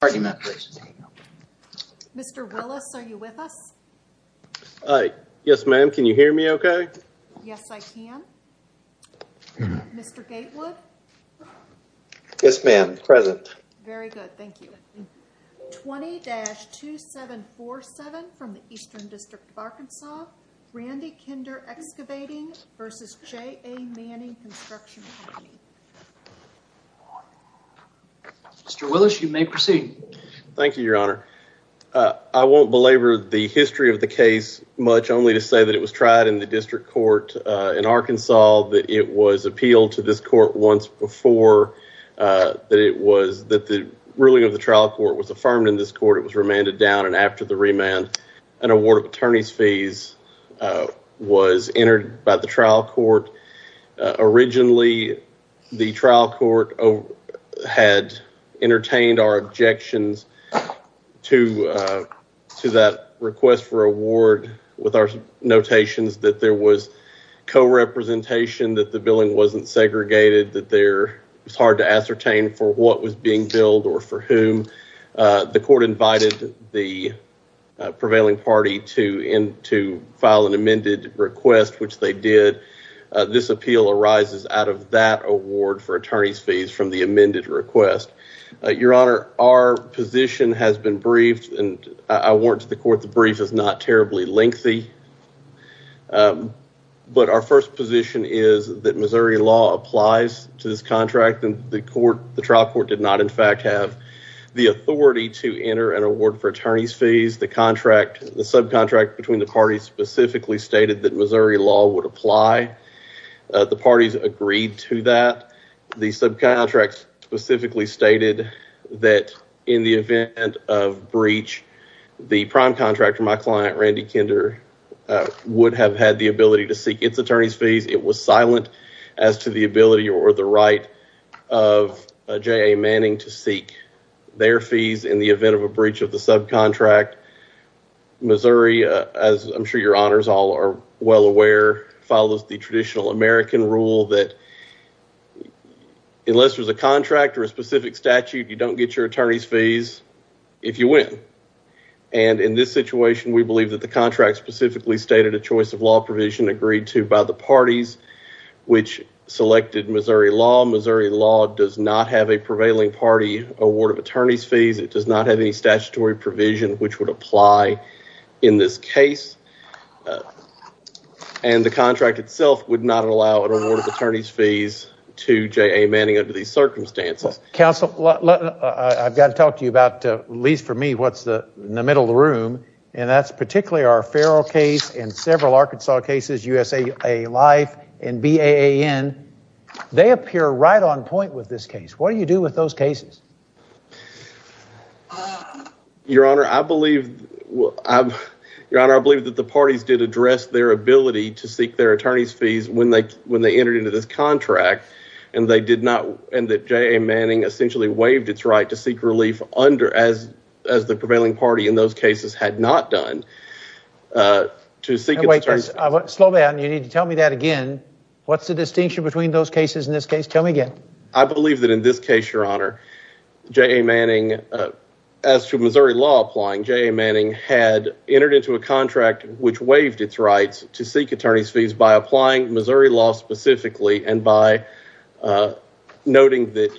Mr. Willis, are you with us? Yes, ma'am. Can you hear me okay? Yes, I can. Mr. Gatewood? Yes, ma'am. Present. Very good. Thank you. 20-2747 from the Eastern District of Arkansas, Randy Kinder Excavating v. JA Manning Construction Company. Mr. Willis, you may proceed. Thank you, Your Honor. I won't belabor the history of the case much, only to say that it was tried in the district court in Arkansas, that it was appealed to this court once before, that the ruling of the trial court was affirmed in this court, it was remanded down, and after the remand, an award of attorney's fees was entered by the trial court. Originally, the trial court had entertained our objections to that request for award with our notations that there was co-representation, that the billing wasn't segregated, that it was hard to ascertain for what was being billed or for whom. The court invited the prevailing party to file an amended request, which they did. This appeal arises out of that award for attorney's fees from the amended request. Your Honor, our position has been briefed, and I warrant to the court the brief is not terribly lengthy, but our first position is that Missouri law applies to this contract, and the trial court did not, in fact, have the authority to do so. The subcontract between the parties specifically stated that Missouri law would apply. The parties agreed to that. The subcontract specifically stated that in the event of breach, the prime contractor, my client, Randy Kinder, would have had the ability to seek its attorney's fees. It was silent as to the ability or the right of J.A. Manning to seek their fees in the event of a breach of the subcontract. Missouri, as I'm sure your honors all are well aware, follows the traditional American rule that unless there's a contract or a specific statute, you don't get your attorney's fees if you win. In this situation, we believe that the contract specifically stated a choice of law provision agreed to by the parties which selected Missouri law. Missouri law does not have a prevailing party award of attorney's fees. It does not have any statutory provision which would apply in this case, and the contract itself would not allow an award of attorney's fees to J.A. Manning under these circumstances. Counsel, I've got to talk to you about, at least for me, what's in the middle of the room, and that's particularly our Farrell case and several Arkansas cases, USA Life and BAAN. They appear right on point with this case. What do you do with those cases? Your honor, I believe that the parties did address their ability to seek their attorney's fees when they entered into this contract, and that J.A. Manning essentially waived its right to seek relief as the prevailing party in those cases had not done. Wait, slow down. You need to tell me that again. What's the distinction between those cases in this case? Tell me again. I believe that in this case, your honor, J.A. Manning, as to Missouri law applying, J.A. Manning had entered into a contract which waived its rights to seek attorney's fees by applying Missouri law specifically and by noting that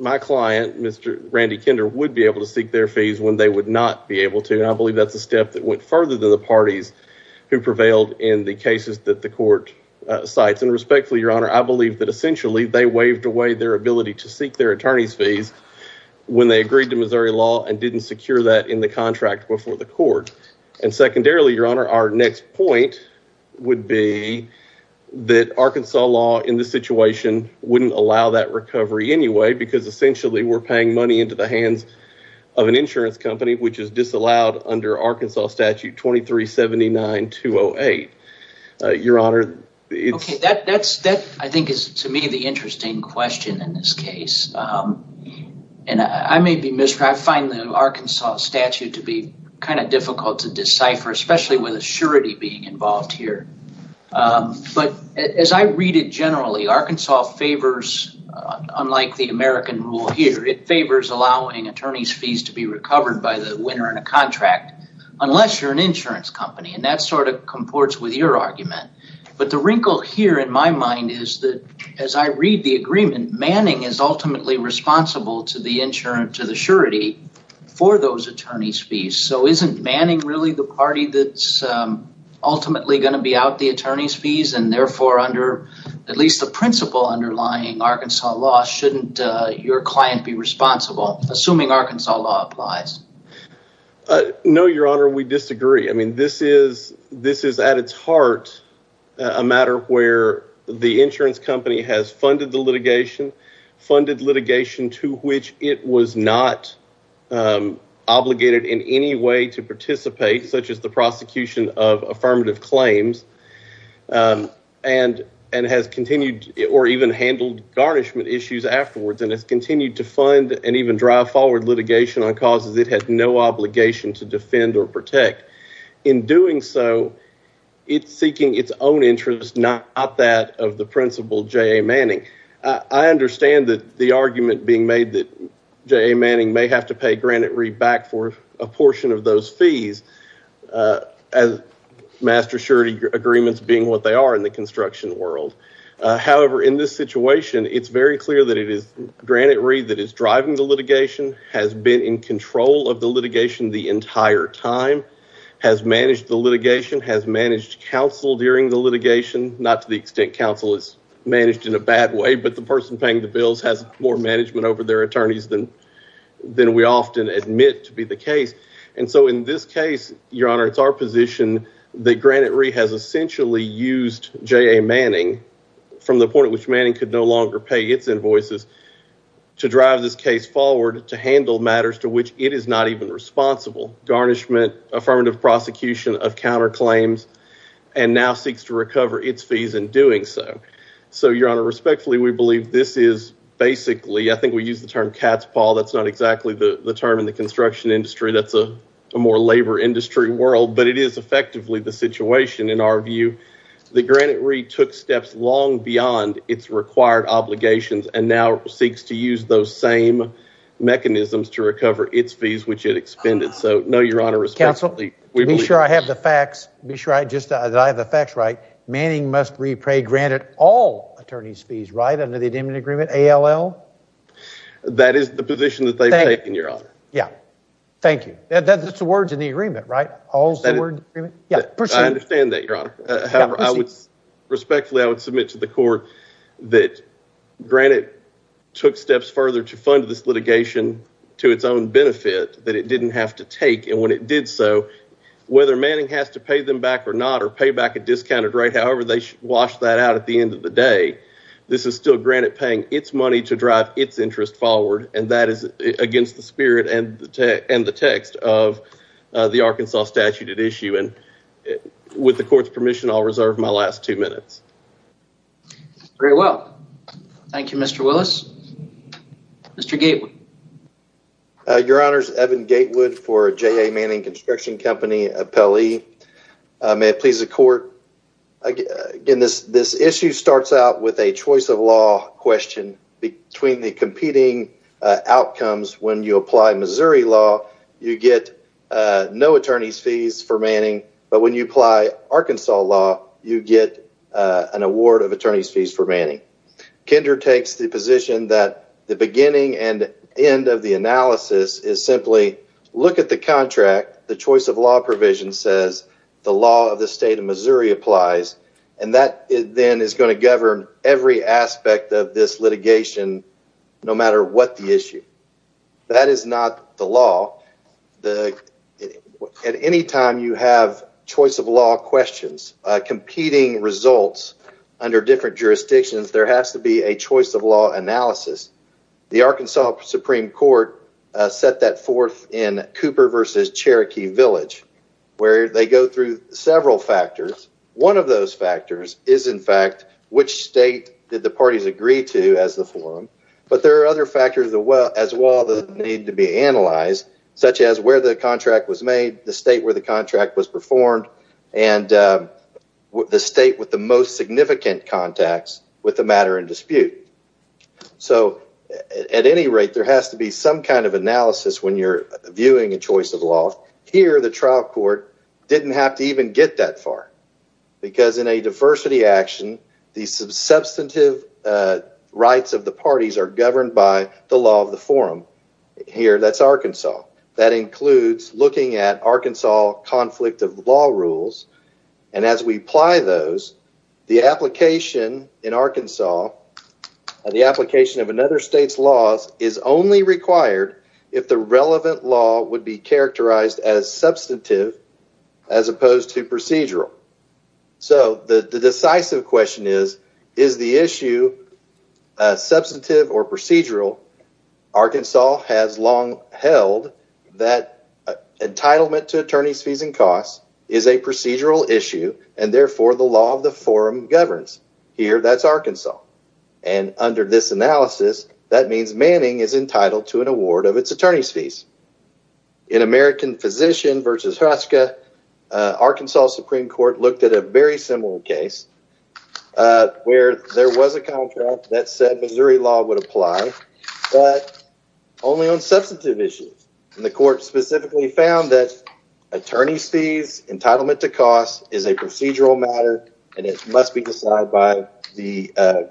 my client, Mr. Randy Kinder, would be able to seek their fees when they would not be able to, and I believe that's a step that went further than the parties who prevailed in the cases that the court cites. And respectfully, your honor, I believe that essentially they waived away their ability to seek their attorney's fees when they agreed to Missouri law and didn't secure that in the contract before the court. And secondarily, your honor, our next point would be that Arkansas law in this situation wouldn't allow that recovery anyway, because essentially we're paying money into the hands of an insurance company, which is disallowed under Arkansas statute 2379-208. Okay, that I think is to me the interesting question in this case, and I may be misrepresenting, I find the Arkansas statute to be kind of difficult to decipher, especially with a surety being involved here. But as I read it generally, Arkansas favors, unlike the American rule here, it favors allowing attorney's fees to be recovered by the winner in a contract unless you're an insurance company, and that sort of comports with your argument. But the wrinkle here in my mind is that as I read the agreement, Manning is ultimately responsible to the insurance, to the surety for those attorney's fees. So isn't Manning really the party that's ultimately going to be out the attorney's fees and therefore under at least the principle underlying Arkansas law, shouldn't your client be responsible, assuming Arkansas law applies? No, Your Honor, we disagree. I mean, this is at its heart a matter where the insurance company has funded the litigation, funded litigation to which it was not obligated in any way to participate, such as the prosecution of affirmative claims. And has continued or even handled garnishment issues afterwards and has continued to fund and even drive forward litigation on causes it has no obligation to defend or protect. In doing so, it's seeking its own interest, not that of the principal J.A. Manning. I understand that the argument being made that J.A. Manning may have to pay Granite Re back for a portion of those fees as master surety agreements being what they are in the construction world. However, in this situation, it's very clear that it is Granite Re that is driving the litigation, has been in control of the litigation the entire time, has managed the litigation, has managed counsel during the litigation. Not to the extent counsel is managed in a bad way, but the person paying the bills has more management over their attorneys than we often admit to be the case. And so in this case, Your Honor, it's our position that Granite Re has essentially used J.A. Manning from the point at which Manning could no longer pay its invoices to drive this case forward to handle matters to which it is not even responsible. Garnishment, affirmative prosecution of counterclaims, and now seeks to recover its fees in doing so. So, Your Honor, respectfully, we believe this is basically, I think we use the term cat's paw. That's not exactly the term in the construction industry. That's a more labor industry world, but it is effectively the situation in our view that Granite Re took steps long beyond its required obligations and now seeks to use those same mechanisms to recover its fees, which it expended. So, no, Your Honor, responsibly. Counsel, be sure I have the facts. Be sure I just that I have the facts right. Manning must repay Granite all attorney's fees right under the agreement. A.L.L. That is the position that they've taken, Your Honor. Yeah. Thank you. That's the words in the agreement, right? All the words. Yeah. I understand that, Your Honor. Respectfully, I would submit to the court that Granite took steps further to fund this litigation to its own benefit that it didn't have to take. And when it did so, whether Manning has to pay them back or not or pay back a discounted rate, however they wash that out at the end of the day, this is still Granite paying its money to drive its interest forward. And that is against the spirit and the text of the Arkansas statute at issue. And with the court's permission, I'll reserve my last two minutes. Very well. Thank you, Mr. Willis. Mr. Gatewood. Your Honor, Evan Gatewood for J.A. Manning Construction Company, Appellee. May it please the court. Again, this issue starts out with a choice of law question between the competing outcomes. When you apply Missouri law, you get no attorney's fees for Manning. But when you apply Arkansas law, you get an award of attorney's fees for Manning. Kender takes the position that the beginning and end of the analysis is simply look at the contract, the choice of law provision says the law of the state of Missouri applies, and that then is going to govern every aspect of this litigation no matter what the issue. That is not the law. At any time you have choice of law questions, competing results under different jurisdictions, there has to be a choice of law analysis. The Arkansas Supreme Court set that forth in Cooper v. Cherokee Village where they go through several factors. One of those factors is, in fact, which state did the parties agree to as the forum. But there are other factors as well that need to be analyzed, such as where the contract was made, the state where the contract was performed, and the state with the most significant contacts with the matter in dispute. So at any rate, there has to be some kind of analysis when you're viewing a choice of law. Here, the trial court didn't have to even get that far because in a diversity action, the substantive rights of the parties are governed by the law of the forum. Here, that's Arkansas. That includes looking at Arkansas conflict of law rules, and as we apply those, the application in Arkansas, the application of another state's laws is only required if the relevant law would be characterized as substantive as opposed to procedural. So the decisive question is, is the issue substantive or procedural? Arkansas has long held that entitlement to attorney's fees and costs is a procedural issue, and therefore the law of the forum governs. Here, that's Arkansas. And under this analysis, that means Manning is entitled to an award of its attorney's fees. In American Physician versus Hruska, Arkansas Supreme Court looked at a very similar case where there was a contract that said Missouri law would apply, but only on substantive issues. The court specifically found that attorney's fees, entitlement to costs is a procedural matter, and it must be decided by the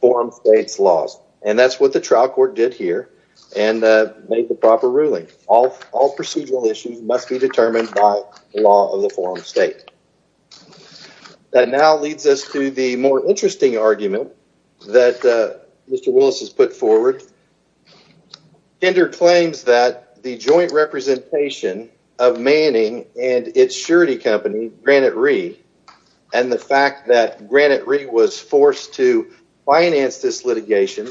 forum state's laws. And that's what the trial court did here and made the proper ruling. All procedural issues must be determined by the law of the forum state. That now leads us to the more interesting argument that Mr. Willis has put forward. Kender claims that the joint representation of Manning and its surety company, Granite Re, and the fact that Granite Re was forced to finance this litigation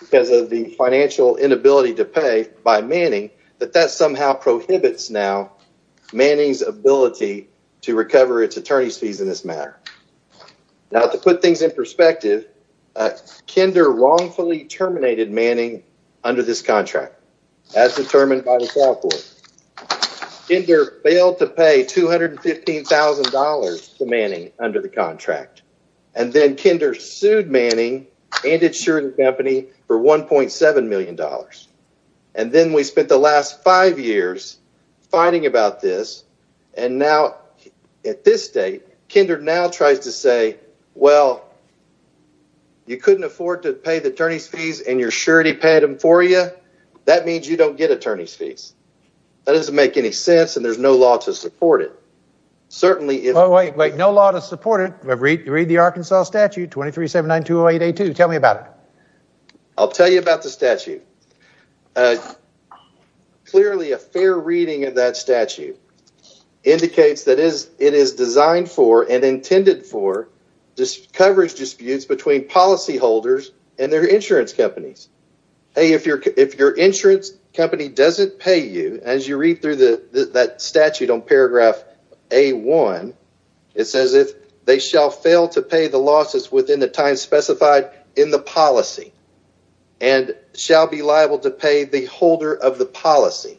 because of the financial inability to pay by Manning, that that somehow prohibits now Manning's ability to recover its attorney's fees in this matter. Now, to put things in perspective, Kender wrongfully terminated Manning under this contract as determined by the trial court. Kender failed to pay $215,000 to Manning under the contract. And then Kender sued Manning and its surety company for $1.7 million. And then we spent the last five years fighting about this. And now at this state, Kender now tries to say, well, you couldn't afford to pay the attorney's fees and your surety paid them for you. That means you don't get attorney's fees. That doesn't make any sense. And there's no law to support it. Certainly. Wait, wait. No law to support it. Read the Arkansas statute. Twenty three seven nine two eight eight two. Tell me about it. I'll tell you about the statute. Clearly, a fair reading of that statute indicates that is it is designed for and intended for this coverage disputes between policyholders and their insurance companies. Hey, if you're if your insurance company doesn't pay you as you read through that statute on paragraph a one. It says if they shall fail to pay the losses within the time specified in the policy. And shall be liable to pay the holder of the policy.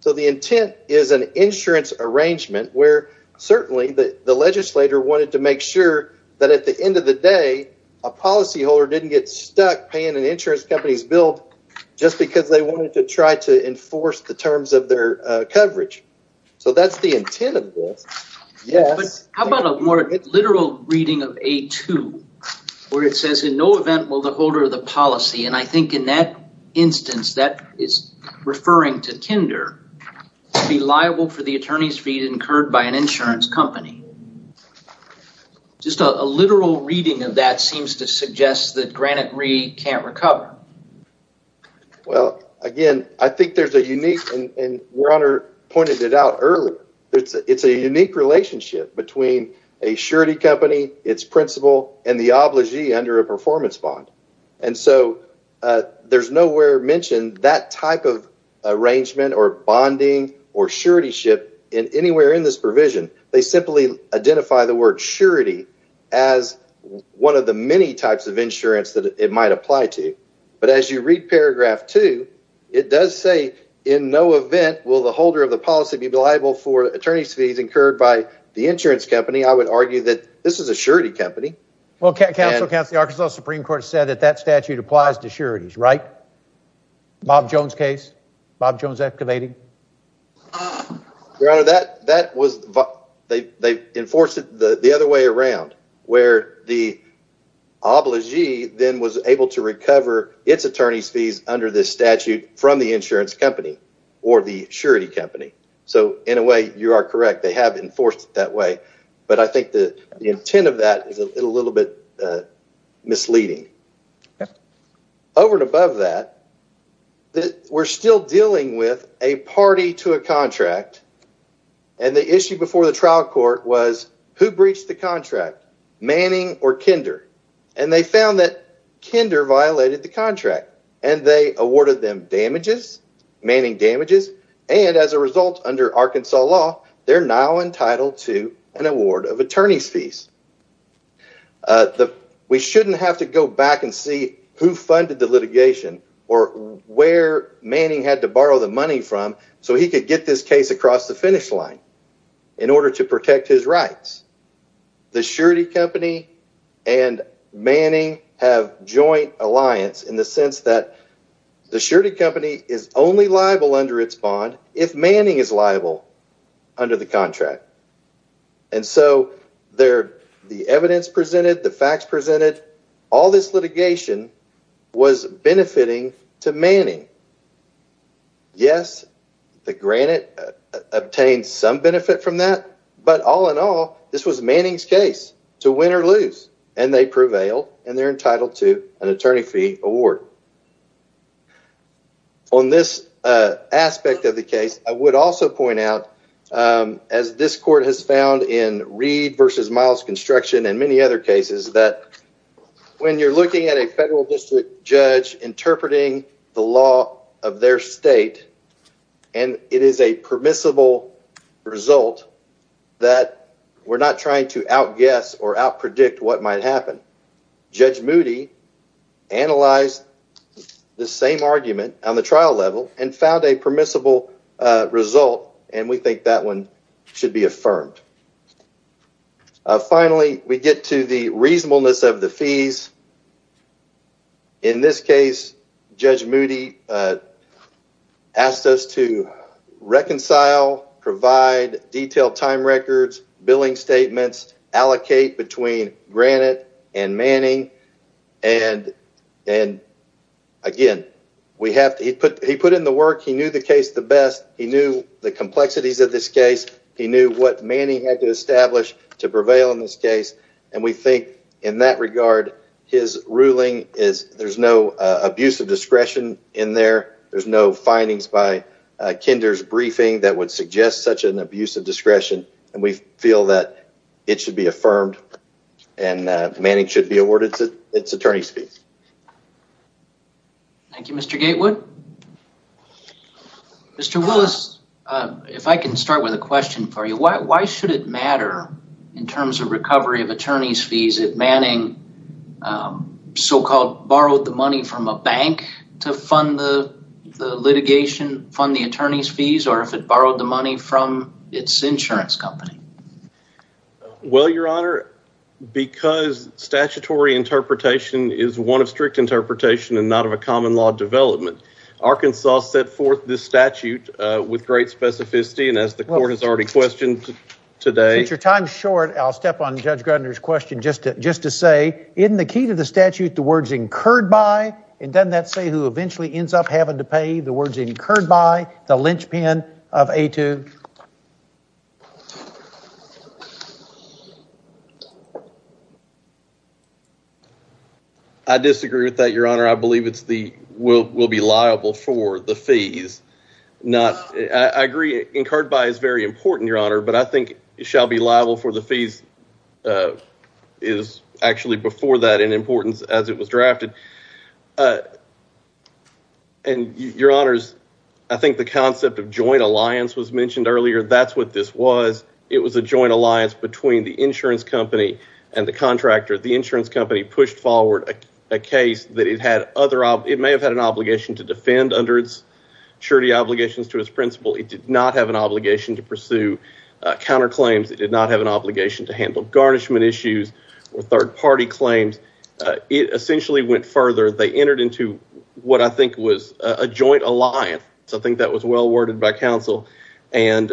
So the intent is an insurance arrangement where certainly the legislator wanted to make sure that at the end of the day, a policyholder didn't get stuck paying an insurance company's bill just because they wanted to try to enforce the terms of their coverage. So that's the intent of this. Yes. How about a more literal reading of a two where it says in no event will the holder of the policy. And I think in that instance, that is referring to kinder to be liable for the attorney's fee incurred by an insurance company. Just a literal reading of that seems to suggest that Granite Re can't recover. Well, again, I think there's a unique and Warner pointed it out earlier. It's a unique relationship between a surety company, its principal and the obligee under a performance bond. And so there's nowhere mentioned that type of arrangement or bonding or surety ship in anywhere in this provision. They simply identify the word surety as one of the many types of insurance that it might apply to. But as you read paragraph two, it does say in no event will the holder of the policy be liable for attorney's fees incurred by the insurance company. I would argue that this is a surety company. Well, counsel, counsel, Arkansas Supreme Court said that that statute applies to sureties. Right. Bob Jones case, Bob Jones activating that. That that was they enforce it the other way around, where the obligee then was able to recover its attorney's fees under this statute from the insurance company or the surety company. So in a way, you are correct. They have enforced that way. But I think the intent of that is a little bit misleading over and above that. We're still dealing with a party to a contract. And the issue before the trial court was who breached the contract, Manning or Kinder? And they found that Kinder violated the contract and they awarded them damages, manning damages. And as a result, under Arkansas law, they're now entitled to an award of attorney's fees. We shouldn't have to go back and see who funded the litigation or where Manning had to borrow the money from so he could get this case across the finish line in order to protect his rights. The surety company and Manning have joint alliance in the sense that the surety company is only liable under its bond if Manning is liable under the contract. And so there the evidence presented, the facts presented, all this litigation was benefiting to Manning. Yes, granted, obtained some benefit from that. But all in all, this was Manning's case to win or lose. And they prevail and they're entitled to an attorney fee award. On this aspect of the case, I would also point out, as this court has found in Reed versus Miles construction and many other cases, that when you're looking at a federal district judge interpreting the law of their state and it is a permissible result that we're not trying to outguess or outpredict what might happen. Judge Moody analyzed the same argument on the trial level and found a permissible result. And we think that one should be affirmed. Finally, we get to the reasonableness of the fees. In this case, Judge Moody asked us to reconcile, provide detailed time records, billing statements, allocate between Granite and Manning. And and again, we have he put he put in the work. He knew the case the best. He knew the complexities of this case. He knew what Manning had to establish to prevail in this case. And we think in that regard, his ruling is there's no abuse of discretion in there. There's no findings by Kinder's briefing that would suggest such an abuse of discretion. And we feel that it should be affirmed and Manning should be awarded its attorney's fees. Thank you, Mr. Gatewood. Mr. Why should it matter in terms of recovery of attorney's fees if Manning so-called borrowed the money from a bank to fund the litigation, fund the attorney's fees, or if it borrowed the money from its insurance company? Well, your honor, because statutory interpretation is one of strict interpretation and not of a common law development. Arkansas set forth this statute with great specificity. And as the court has already questioned today, your time is short. I'll step on Judge Gardner's question just to just to say in the key to the statute, the words incurred by. And then that say who eventually ends up having to pay the words incurred by the linchpin of a two. I disagree with that, your honor. I believe it's the will will be liable for the fees. Not I agree. Incurred by is very important, your honor. But I think it shall be liable for the fees is actually before that in importance as it was drafted. And your honors, I think the concept of joint alliance was mentioned earlier. That's what this was. It was a joint alliance between the insurance company and the contractor. The insurance company pushed forward a case that it had other. It may have had an obligation to defend under its surety obligations to its principal. It did not have an obligation to pursue counterclaims. It did not have an obligation to handle garnishment issues or third party claims. It essentially went further. They entered into what I think was a joint alliance. I think that was well worded by counsel. And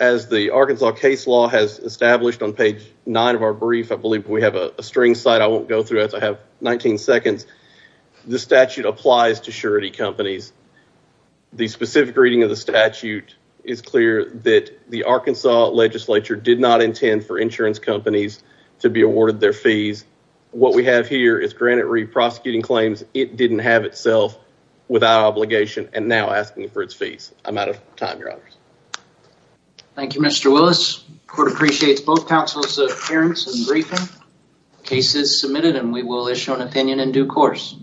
as the Arkansas case law has established on page nine of our brief, I believe we have a string site. I won't go through it. I have 19 seconds. The statute applies to surety companies. The specific reading of the statute is clear that the Arkansas legislature did not intend for insurance companies to be awarded their fees. What we have here is granted re-prosecuting claims. It didn't have itself without obligation and now asking for its fees. I'm out of time, your honors. Thank you, Mr. Willis. Court appreciates both counsel's appearance and briefing. Case is submitted and we will issue an opinion in due course.